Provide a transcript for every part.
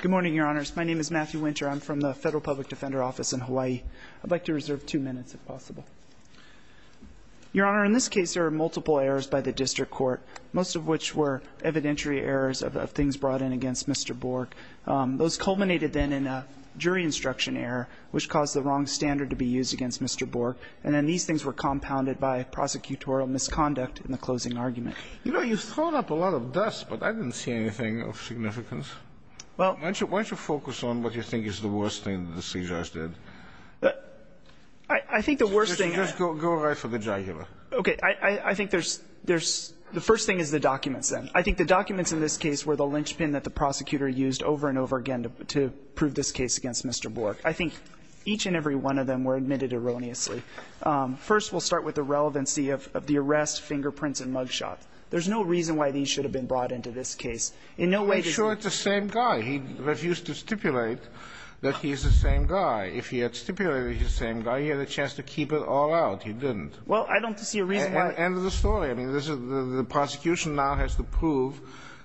Good morning, Your Honors. My name is Matthew Winter. I'm from the Federal Public Defender Office in Hawaii. I'd like to reserve two minutes if possible. Your Honor, in this case there are multiple errors by the district court, most of which were evidentiary errors of things brought in against Mr. Borg. Those culminated then in a jury instruction error which caused the wrong standard to be used against Mr. Borg, and then these things were You know, you've thrown up a lot of dust, but I didn't see anything of significance. Why don't you focus on what you think is the worst thing that the seizures did? I think the worst thing Just go right for the jugular. Okay. I think there's the first thing is the documents, then. I think the documents in this case were the linchpin that the prosecutor used over and over again to prove this case against Mr. Borg. I think each and every one of them were admitted erroneously. First, we'll start with the relevancy of the arrest, fingerprints and mugshot. There's no reason why these should have been brought into this case. In no way I'm sure it's the same guy. He refused to stipulate that he's the same guy. If he had stipulated he's the same guy, he had a chance to keep it all out. He didn't. Well, I don't see a reason why End of the story. I mean, the prosecution now has to prove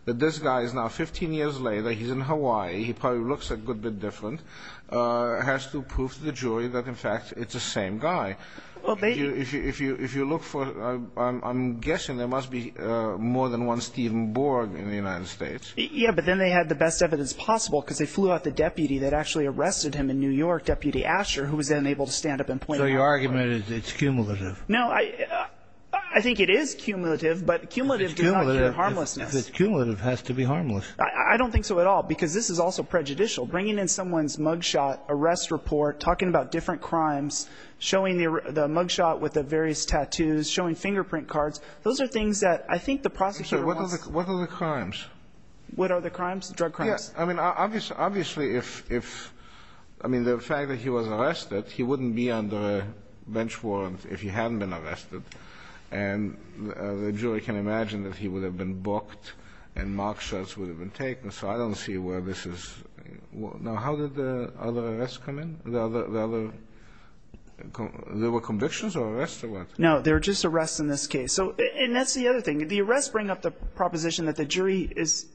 that this guy is now 15 years later, he's in Hawaii, he probably looks a good bit different, has to prove to the jury that, in fact, it's the same guy. Well, if you look for, I'm guessing there must be more than one Stephen Borg in the United States. Yeah, but then they had the best evidence possible because they flew out the deputy that actually arrested him in New York, Deputy Asher, who was then able to stand up and point So your argument is it's cumulative? No, I think it is cumulative, but cumulative does not mean harmlessness. If it's cumulative, it has to be harmless. I don't think so at all, because this is also prejudicial. Bringing in someone's mugshot with the various tattoos, showing fingerprint cards, those are things that I think the prosecutor wants What are the crimes? What are the crimes? Drug crimes? I mean, obviously, if, I mean, the fact that he was arrested, he wouldn't be under a bench warrant if he hadn't been arrested. And the jury can imagine that he would have been booked and mock shots would have been taken. So I don't see where this is. Now, how did the other arrests come in? There were convictions or arrests or what? No, there were just arrests in this case. So, and that's the other thing. The arrests bring up the proposition that the jury is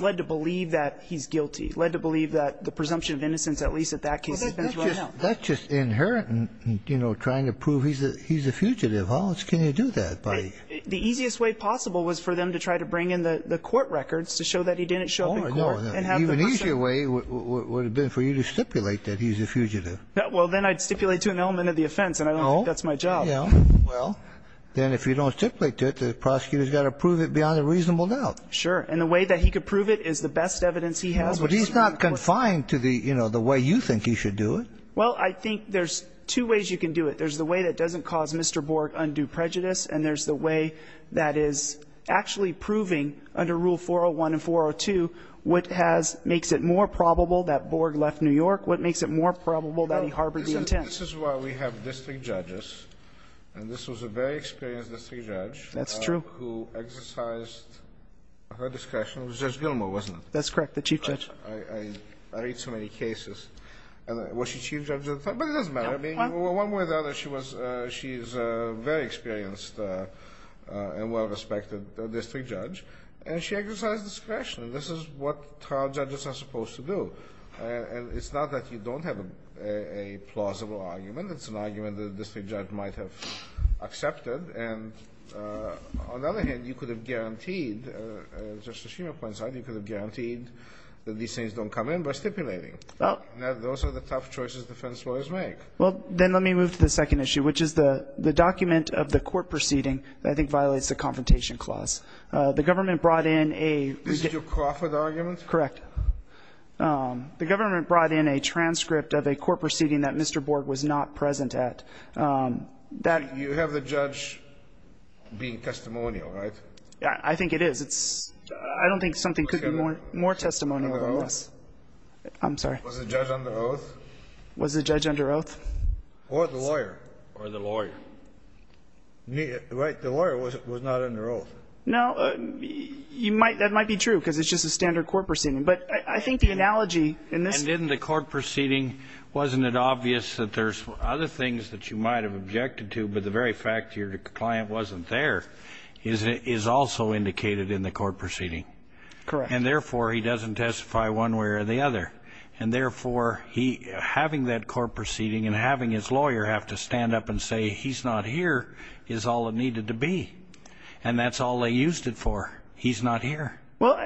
led to believe that he's guilty, led to believe that the presumption of innocence, at least at that case, has been thrown out. That's just inherent in, you know, trying to prove he's a fugitive. How else can you do that? The easiest way possible was for them to try to bring in the court records to show that he didn't show up in court and have the person prove it. The easier way would have been for you to stipulate that he's a fugitive. Well, then I'd stipulate to an element of the offense, and I don't think that's my job. Well, then if you don't stipulate to it, the prosecutor's got to prove it beyond a reasonable doubt. Sure. And the way that he could prove it is the best evidence he has. But he's not confined to the, you know, the way you think he should do it. Well, I think there's two ways you can do it. There's the way that doesn't cause Mr. Borg undue prejudice, and there's the way that is actually proving under Rule 401 and 402 what has – makes it more probable that Borg left New York, what makes it more probable that he harbored the intent. You know, this is why we have district judges, and this was a very experienced district judge. That's true. Who exercised her discretion. It was Judge Gilmore, wasn't it? That's correct, the chief judge. I read too many cases. And was she chief judge at the time? But it doesn't matter. No. I mean, one way or the other, she was – she is a very experienced and well-respected district judge, and she exercised discretion. This is what trial judges are supposed to do. And it's not that you don't have a plausible argument. It's an argument that a district judge might have accepted. And on the other hand, you could have guaranteed, as Justice Schumer points out, you could have guaranteed that these things don't come in by stipulating. Well – Those are the tough choices defense lawyers make. Well, then let me move to the second issue, which is the document of the court proceeding that I think violates the Confrontation Clause. The government brought in a – This is your Crawford argument? Correct. The government brought in a transcript of a court proceeding that Mr. Borg was not present at. You have the judge being testimonial, right? I think it is. I don't think something could be more testimonial than this. Was the judge under oath? I'm sorry. Was the judge under oath? Was the judge under oath? Or the lawyer. Or the lawyer. The lawyer was not under oath. No. That might be true, because it's just a standard court proceeding. But I think the analogy in this – And in the court proceeding, wasn't it obvious that there's other things that you might have objected to, but the very fact your client wasn't there is also indicated in the court proceeding? Correct. And therefore, he doesn't testify one way or the other. And therefore, having that court proceeding and having his lawyer have to stand up and say, he's not here, is all it needed to be. And that's all they used it for, he's not here. Well,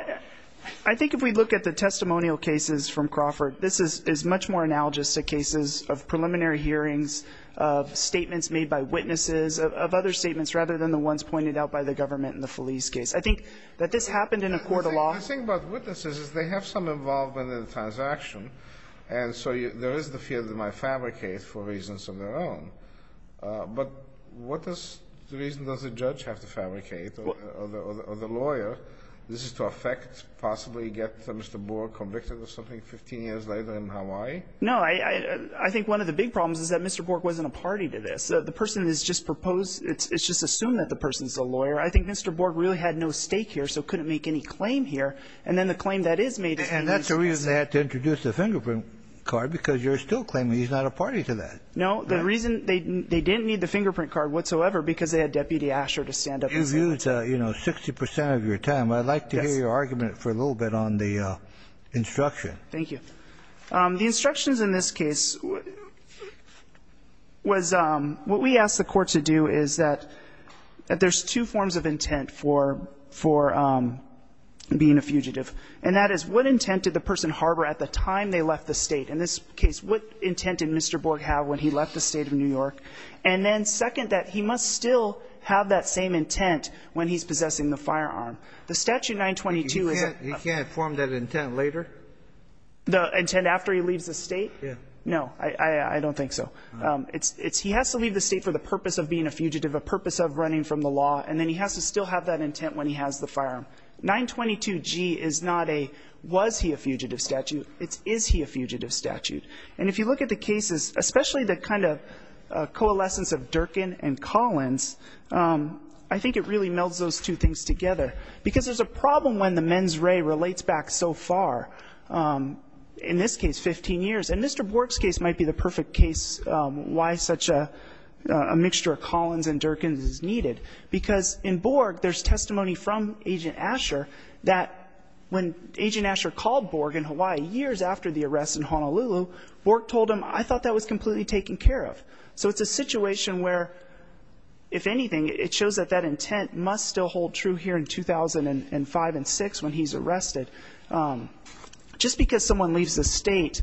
I think if we look at the testimonial cases from Crawford, this is much more analogous to cases of preliminary hearings, of statements made by witnesses, of other statements rather than the ones pointed out by the government in the Feliz case. I think that this happened in a court of law – The thing about witnesses is they have some involvement in the transaction, and so there is the fear that they might fabricate for reasons of their own. But what is the reason does the judge have to fabricate or the lawyer? This is to affect, possibly get Mr. Borg convicted of something 15 years later in Hawaii? No. I think one of the big problems is that Mr. Borg wasn't a party to this. The person has just proposed – it's just assumed that the person's a lawyer. I think Mr. Borg really had no stake here, so couldn't make any claim here. And then the claim that is made is that he was – The reason they had to introduce the fingerprint card because you're still claiming he's not a party to that. No. The reason – they didn't need the fingerprint card whatsoever because they had Deputy Asher to stand up and say that. You used, you know, 60 percent of your time. Yes. I'd like to hear your argument for a little bit on the instruction. Thank you. The instructions in this case was – what we asked the court to do is that there's two forms of intent for being a fugitive. And that is, what intent did the person harbor at the time they left the State? In this case, what intent did Mr. Borg have when he left the State of New York? And then second, that he must still have that same intent when he's possessing the firearm. The Statute 922 is – He can't form that intent later? The intent after he leaves the State? Yeah. No. I don't think so. He has to leave the State for the purpose of being a fugitive, a purpose of running from the law, and then he has to still have that intent when he has the firearm. 922G is not a was-he-a-fugitive statute. It's is-he-a-fugitive statute. And if you look at the cases, especially the kind of coalescence of Durkin and Collins, I think it really melds those two things together. Because there's a problem when the mens re relates back so far. In this case, 15 years. And Mr. Borg's case might be the perfect case why such a mixture of Collins and Durkin is needed. Because in Borg, there's testimony from Agent Asher that when Agent Asher called Borg in Hawaii years after the arrest in Honolulu, Borg told him, I thought that was completely taken care of. So it's a situation where, if anything, it shows that that intent must still hold true here in 2005 and 2006 when he's arrested. Just because someone leaves the State,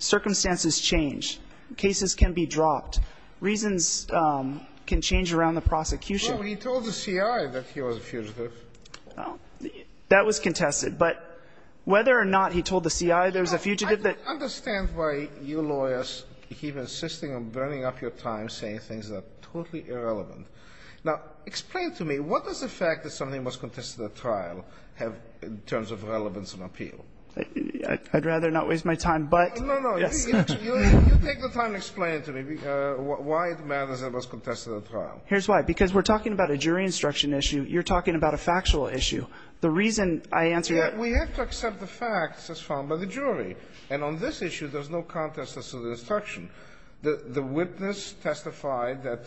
circumstances change. Cases can be dropped. Reasons can change around the prosecution. Well, he told the C.I. that he was a fugitive. That was contested. But whether or not he told the C.I. there was a fugitive that ---- I don't understand why your lawyers keep insisting on burning up your time saying things that are totally irrelevant. Now, explain to me, what does the fact that something was contested at trial have in terms of relevance and appeal? I'd rather not waste my time, but ---- No, no. You take the time to explain it to me. Why it matters that it was contested at trial. Here's why. Because we're talking about a jury instruction issue. You're talking about a factual issue. The reason I answer that ---- We have to accept the facts as found by the jury. And on this issue, there's no contest as to the instruction. The witness testified that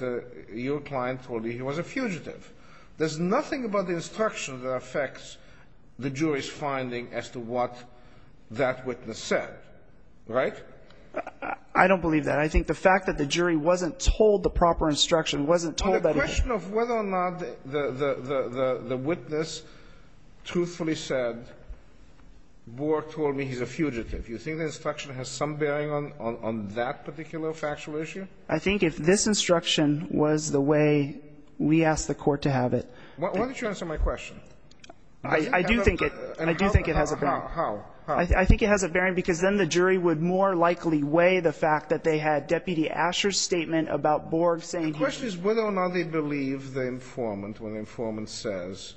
your client told you he was a fugitive. There's nothing about the instruction that affects the jury's finding as to what that witness said. Right? I don't believe that. I think the fact that the jury wasn't told the proper instruction, wasn't told that he ---- On the question of whether or not the witness truthfully said, Bork told me he's a fugitive, you think the instruction has some bearing on that particular factual issue? I think if this instruction was the way we asked the Court to have it ---- Why don't you answer my question? I do think it has a bearing. How? I think it has a bearing because then the jury would more likely weigh the fact that they had Deputy Asher's statement about Bork saying he ---- The question is whether or not they believe the informant when the informant says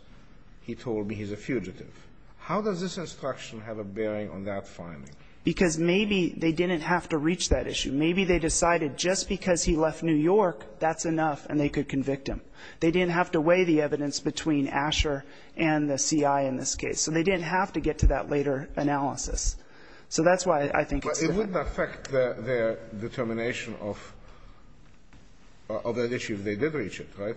he told me he's a fugitive. How does this instruction have a bearing on that finding? Because maybe they didn't have to reach that issue. Maybe they decided just because he left New York, that's enough, and they could convict him. They didn't have to weigh the evidence between Asher and the CI in this case. So they didn't have to get to that later analysis. So that's why I think it's different. But it wouldn't affect their determination of that issue if they did reach it, right?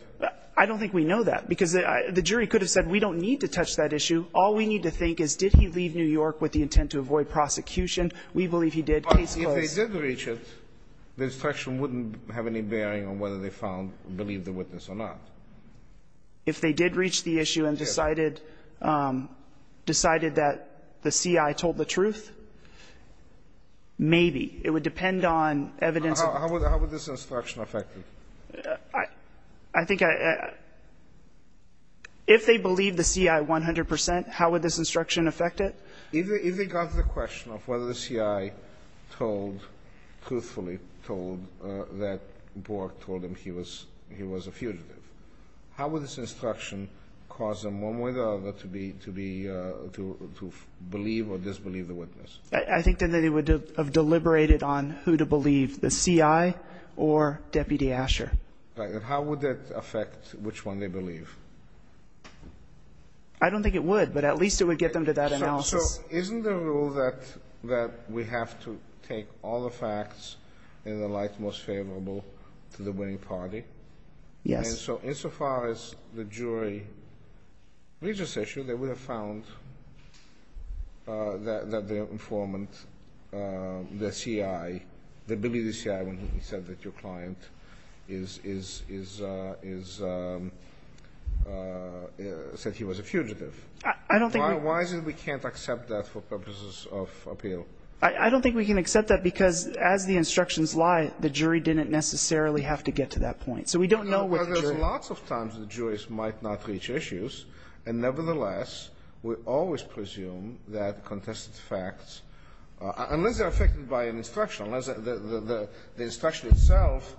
I don't think we know that, because the jury could have said we don't need to touch that issue. All we need to think is did he leave New York with the intent to avoid prosecution? We believe he did. Case closed. But if they did reach it, the instruction wouldn't have any bearing on whether they found or believed the witness or not. If they did reach the issue and decided that the CI told the truth, maybe. It would depend on evidence. How would this instruction affect it? I think I – if they believed the CI 100 percent, how would this instruction affect it? If they got to the question of whether the CI told, truthfully told, that Bork told him he was a fugitive, how would this instruction cause them one way or the other to believe or disbelieve the witness? I think then they would have deliberated on who to believe, the CI or Deputy Asher. Right. And how would that affect which one they believe? I don't think it would, but at least it would get them to that analysis. So isn't the rule that we have to take all the facts in the light most favorable to the winning party? Yes. And so, insofar as the jury reaches this issue, they would have found that the informant, the CI, the Billy, the CI, when he said that your client is – is – is – said he was a fugitive. I don't think we – Why is it we can't accept that for purposes of appeal? I don't think we can accept that because, as the instructions lie, the jury didn't necessarily have to get to that point. So we don't know what the jury – Well, there's lots of times the jurors might not reach issues, and nevertheless, we always presume that contested facts, unless they're affected by an instruction, unless the instruction itself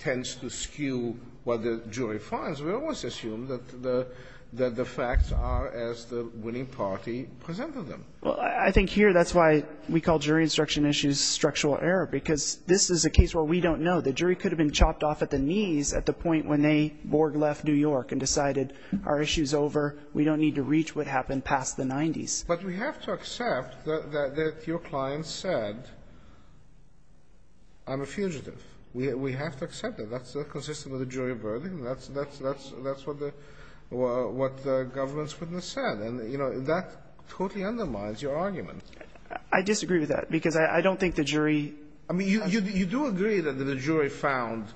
tends to skew what the jury finds, we always assume that the – that the facts are as the winning party presented them. Well, I think here that's why we call jury instruction issues structural error, because this is a case where we don't know. The jury could have been chopped off at the knees at the point when they board-left New York and decided, our issue's over, we don't need to reach what happened past the 90s. But we have to accept that your client said, I'm a fugitive. We have to accept that. That's consistent with a jury of verdict, and that's – that's what the – what the government's witness said. And, you know, that totally undermines your argument. I disagree with that, because I don't think the jury – I mean, you do agree that the jury found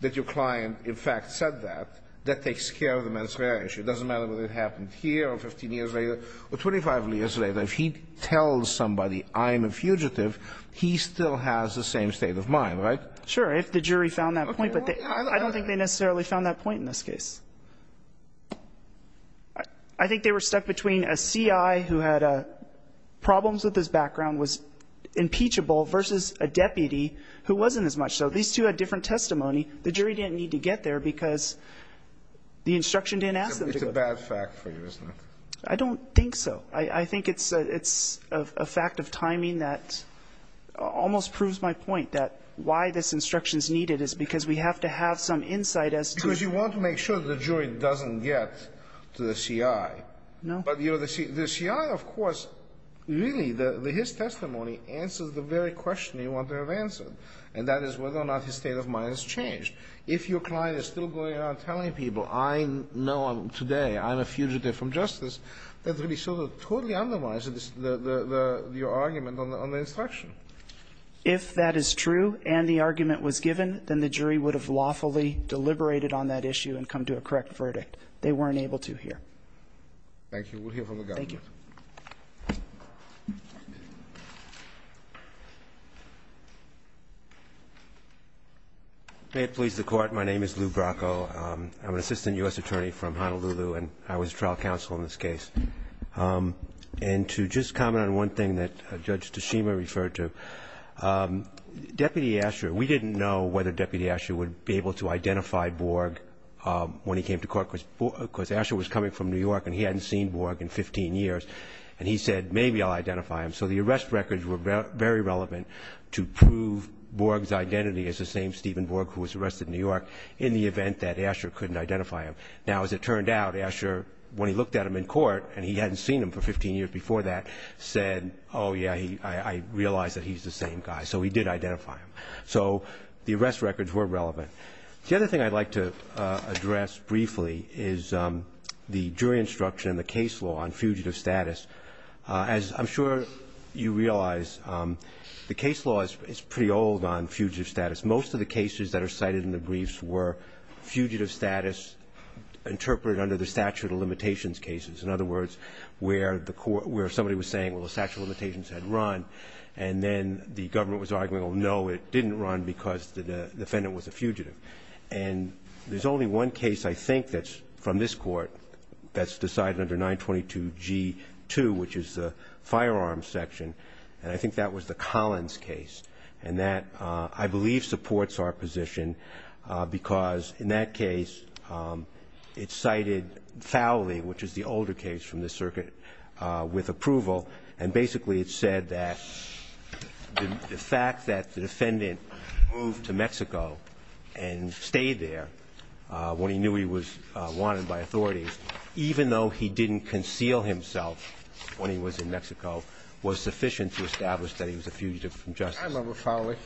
that your client, in fact, said that. That takes care of the mens rea issue. It doesn't matter whether it happened here or 15 years later or 25 years later. If he tells somebody, I'm a fugitive, he still has the same state of mind, right? Sure. If the jury found that point, but I don't think they necessarily found that point in this case. I think they were stuck between a CI who had problems with his background, was impeachable, versus a deputy who wasn't as much. So these two had different testimony. The jury didn't need to get there because the instruction didn't ask them to. It's a bad fact for you, isn't it? I don't think so. I think it's a fact of timing that almost proves my point, that why this instruction is needed is because we have to have some insight as to – Because you want to make sure the jury doesn't get to the CI. No. But the CI, of course, really, his testimony answers the very question you want to have answered, and that is whether or not his state of mind has changed. If your client is still going around telling people, I know today I'm a fugitive from justice, that really sort of totally undermines your argument on the instruction. If that is true and the argument was given, then the jury would have lawfully deliberated on that issue and come to a correct verdict. They weren't able to here. Thank you. We'll hear from the government. Thank you. May it please the Court, my name is Lou Bracco. I'm an assistant U.S. attorney from Honolulu, and I was trial counsel in this case. And to just comment on one thing that Judge Tashima referred to, Deputy Asher, we didn't know whether Deputy Asher would be able to identify Borg when he came to court because Asher was coming from New York and he hadn't seen Borg in 15 years. And he said, maybe I'll identify him. So the arrest records were very relevant to prove Borg's identity as the same Stephen Borg who was arrested in New York in the event that Asher couldn't identify him. Now, as it turned out, Asher, when he looked at him in court, and he hadn't seen him for 15 years before that, said, oh, yeah, I realize that he's the same guy. So he did identify him. So the arrest records were relevant. The other thing I'd like to address briefly is the jury instruction in the case law on fugitive status. As I'm sure you realize, the case law is pretty old on fugitive status. Most of the cases that are cited in the briefs were fugitive status interpreted under the statute of limitations cases. In other words, where somebody was saying, well, the statute of limitations had run, and then the government was arguing, oh, no, it didn't run because the defendant was a fugitive. And there's only one case I think that's from this court that's decided under 922G2, which is the firearms section. And I think that was the Collins case. And that, I believe, supports our position because in that case it's cited foully, which is the older case from this circuit, with approval. And basically it said that the fact that the defendant moved to Mexico and stayed there when he knew he was wanted by authorities, even though he didn't conceal himself when he was in Mexico, was sufficient to establish that he was a fugitive from justice. I remember foully.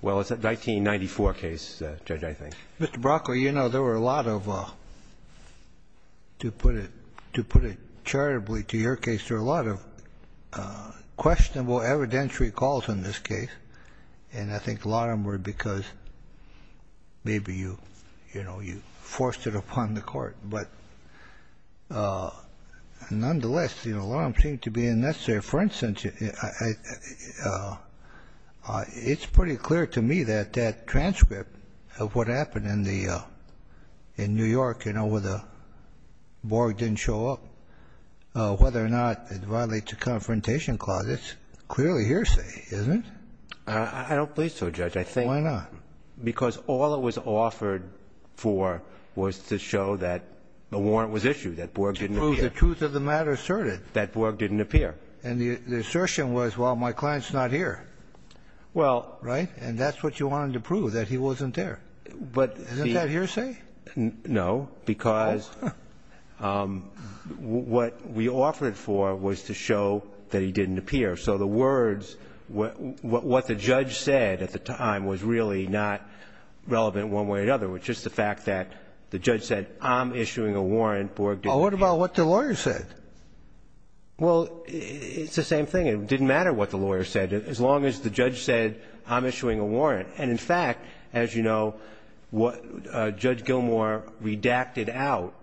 Well, it's a 1994 case, Judge, I think. Mr. Brocco, you know, there were a lot of, to put it charitably to your case, there were a lot of questionable evidentiary calls in this case. And I think a lot of them were because maybe you, you know, you forced it upon the court. But nonetheless, the alarm seemed to be unnecessary. Your Honor, for instance, it's pretty clear to me that that transcript of what happened in the, in New York, you know, where the Borg didn't show up, whether or not it violates the Confrontation Clause, it's clearly hearsay, isn't it? I don't believe so, Judge. Why not? Because all it was offered for was to show that the warrant was issued, that Borg didn't appear. To prove the truth of the matter asserted. That Borg didn't appear. And the assertion was, well, my client's not here. Well. Right? And that's what you wanted to prove, that he wasn't there. Isn't that hearsay? No, because what we offered it for was to show that he didn't appear. So the words, what the judge said at the time was really not relevant one way or another, which is the fact that the judge said, I'm issuing a warrant, Borg didn't appear. Well, what about what the lawyer said? Well, it's the same thing. It didn't matter what the lawyer said, as long as the judge said, I'm issuing a warrant. And, in fact, as you know, Judge Gilmour redacted out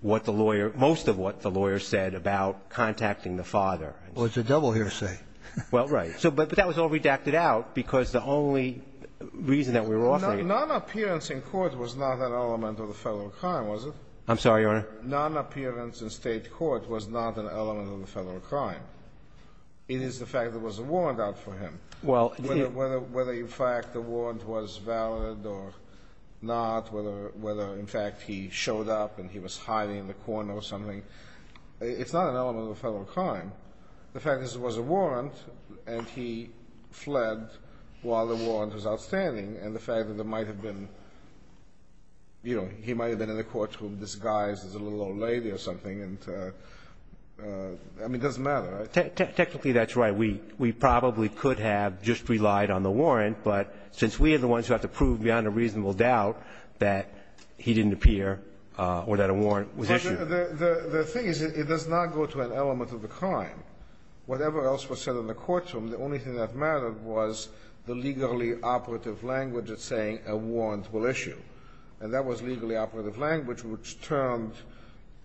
what the lawyer, most of what the lawyer said about contacting the father. Well, it's a double hearsay. Well, right. But that was all redacted out because the only reason that we were offering it. Non-appearance in court was not an element of the federal crime, was it? I'm sorry, Your Honor. Non-appearance in state court was not an element of the federal crime. It is the fact there was a warrant out for him. Well, it is. Whether, in fact, the warrant was valid or not, whether, in fact, he showed up and he was hiding in the corner or something, it's not an element of the federal crime. The fact is it was a warrant, and he fled while the warrant was outstanding, and the fact that there might have been, you know, he might have been in the room with a little old lady or something and, I mean, it doesn't matter. Technically, that's right. We probably could have just relied on the warrant, but since we are the ones who have to prove beyond a reasonable doubt that he didn't appear or that a warrant was issued. The thing is it does not go to an element of the crime. Whatever else was said in the courtroom, the only thing that mattered was the legally operative language that's saying a warrant will issue. And that was legally operative language, which turned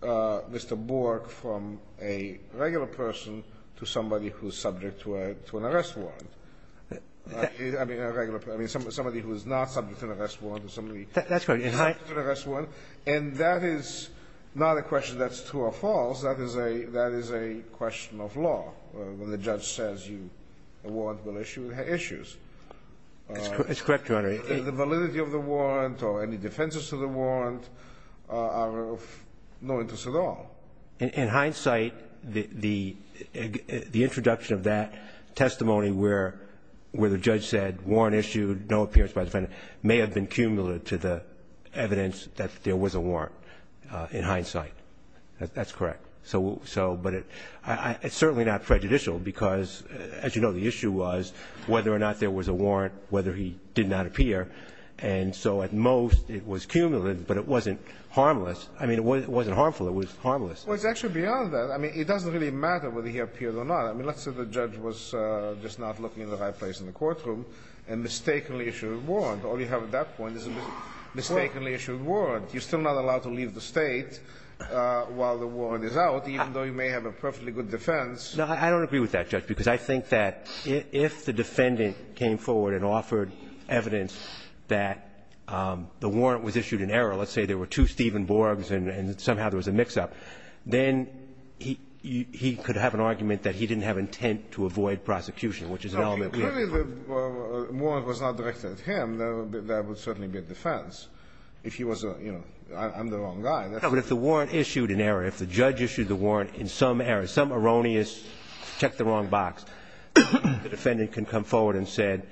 Mr. Bork from a regular person to somebody who is subject to an arrest warrant. I mean, a regular person. I mean, somebody who is not subject to an arrest warrant or somebody who is not subject to an arrest warrant. And that is not a question that's true or false. That is a question of law, when the judge says a warrant will issue, it issues. It's correct, Your Honor. The validity of the warrant or any defenses to the warrant are of no interest at all. In hindsight, the introduction of that testimony where the judge said warrant issued, no appearance by defendant, may have been cumulative to the evidence that there was a warrant in hindsight. That's correct. So, but it's certainly not prejudicial because, as you know, the issue was whether or not there was a warrant, whether he did not appear. And so at most it was cumulative, but it wasn't harmless. I mean, it wasn't harmful. It was harmless. Well, it's actually beyond that. I mean, it doesn't really matter whether he appeared or not. I mean, let's say the judge was just not looking in the right place in the courtroom and mistakenly issued a warrant. All you have at that point is a mistakenly issued warrant. You're still not allowed to leave the State while the warrant is out, even though you may have a perfectly good defense. No, I don't agree with that, Judge, because I think that if the defendant came forward and offered evidence that the warrant was issued in error, let's say there were two Steven Borgs and somehow there was a mix-up, then he could have an argument that he didn't have intent to avoid prosecution, which is an element we have. Clearly the warrant was not directed at him. That would certainly be a defense. If he was a, you know, I'm the wrong guy. No, but if the warrant issued in error, if the judge issued the warrant in some error, and he just checked the wrong box, the defendant can come forward and said,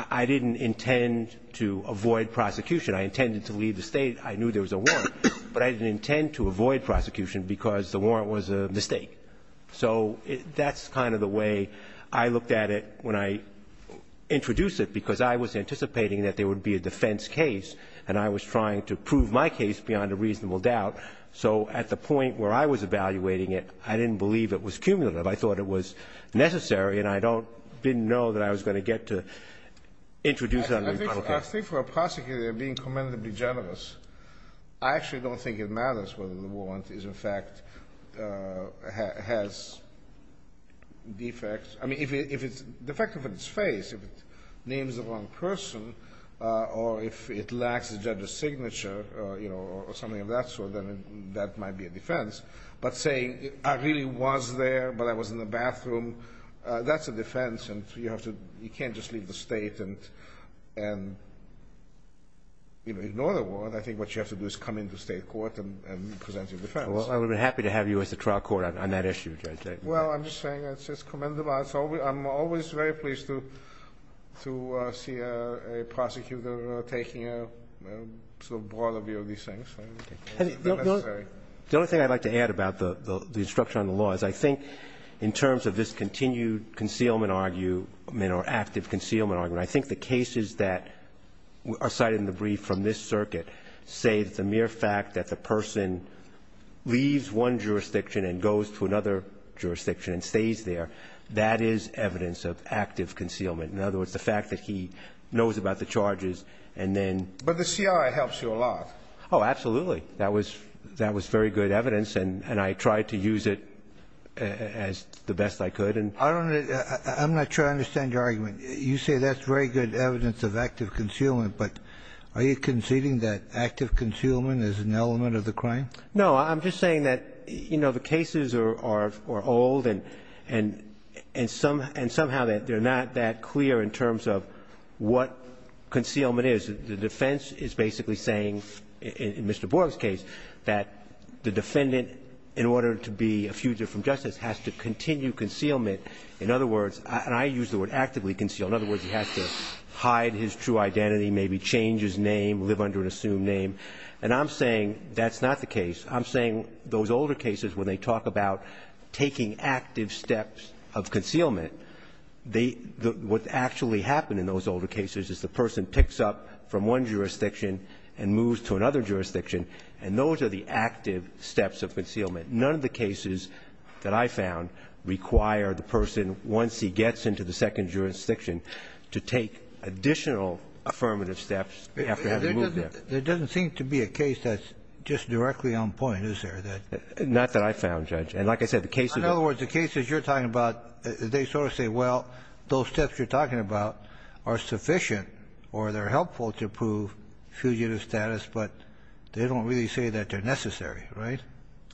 I didn't intend to avoid prosecution. I intended to leave the State. I knew there was a warrant. But I didn't intend to avoid prosecution because the warrant was a mistake. So that's kind of the way I looked at it when I introduced it, because I was anticipating that there would be a defense case, and I was trying to prove my case beyond a reasonable doubt. So at the point where I was evaluating it, I didn't believe it was cumulative. I thought it was necessary, and I don't – didn't know that I was going to get to introduce it under a criminal case. I think for a prosecutor being commendably generous, I actually don't think it matters whether the warrant is in fact – has defects. I mean, if it's defective in its face, if it names the wrong person, or if it lacks the judge's signature or something of that sort, then that might be a defense. But saying, I really was there, but I was in the bathroom, that's a defense, and you have to – you can't just leave the State and ignore the warrant. I think what you have to do is come into state court and present your defense. Well, I would have been happy to have you as a trial court on that issue, J.J. Well, I'm just saying it's just commendable. I'm always very pleased to see a prosecutor taking a sort of broader view of these things. The only thing I'd like to add about the instruction on the law is I think in terms of this continued concealment argument or active concealment argument, I think the cases that are cited in the brief from this circuit say that the mere fact that the person leaves one jurisdiction and goes to another jurisdiction and stays there, that is evidence of active concealment. In other words, the fact that he knows about the charges and then – But the C.I. helps you a lot. Oh, absolutely. That was very good evidence, and I tried to use it as the best I could. I don't – I'm not sure I understand your argument. You say that's very good evidence of active concealment, but are you conceding that active concealment is an element of the crime? No. I'm just saying that, you know, the cases are old and somehow they're not that clear in terms of what concealment is. The defense is basically saying, in Mr. Borg's case, that the defendant, in order to be a fugitive from justice, has to continue concealment. In other words – and I use the word actively conceal. In other words, he has to hide his true identity, maybe change his name, live under an assumed name. And I'm saying that's not the case. I'm saying those older cases, when they talk about taking active steps of concealment, they – what actually happened in those older cases is the person picks up from one jurisdiction and moves to another jurisdiction, and those are the active steps of concealment. And none of the cases that I found require the person, once he gets into the second jurisdiction, to take additional affirmative steps after having moved there. There doesn't seem to be a case that's just directly on point, is there? Not that I found, Judge. And like I said, the cases – In other words, the cases you're talking about, they sort of say, well, those steps you're talking about are sufficient or they're helpful to prove fugitive status, but they don't really say that they're necessary, right?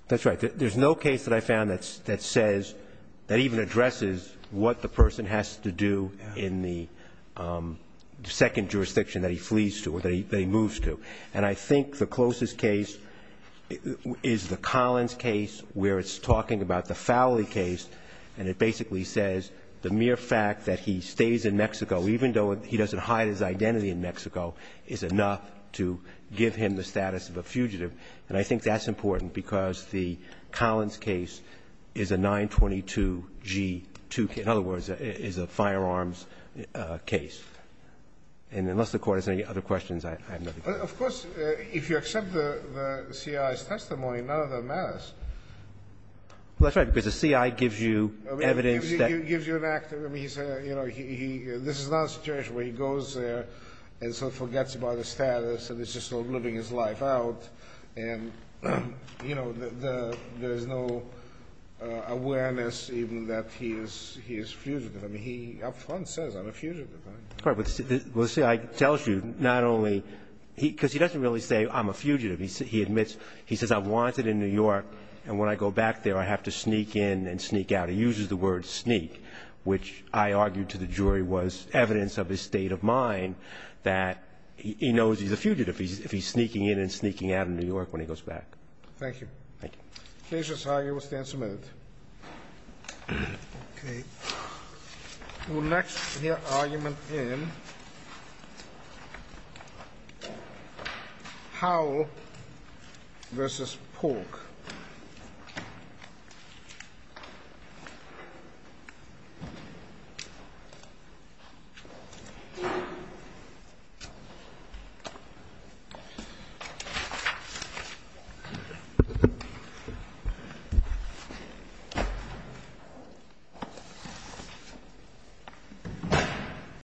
That's right. There's no case that I found that says – that even addresses what the person has to do in the second jurisdiction that he flees to or that he moves to. And I think the closest case is the Collins case, where it's talking about the Fowley case, and it basically says the mere fact that he stays in Mexico, even though he doesn't hide his identity in Mexico, is enough to give him the status of a fugitive. And I think that's important, because the Collins case is a 922-G2 case. In other words, it is a firearms case. And unless the Court has any other questions, I have nothing to say. Of course, if you accept the CI's testimony, none of that matters. Well, that's right, because the CI gives you evidence that – Gives you an act. I mean, he's a – you know, he – this is not a situation where he goes there and sort of forgets about his status and is just living his life out. And, you know, there's no awareness even that he is fugitive. I mean, he up front says, I'm a fugitive. All right. Well, the CI tells you not only – because he doesn't really say, I'm a fugitive. He admits – he says, I'm wanted in New York, and when I go back there I have to sneak in and sneak out. He uses the word sneak, which I argued to the jury was evidence of his state of mind that he knows he's a fugitive if he's sneaking in and sneaking out of New York when he goes back. Thank you. Thank you. The case is hired. We'll stand some minutes. Okay. We'll next hear argument in Howell v. Polk. Thank you.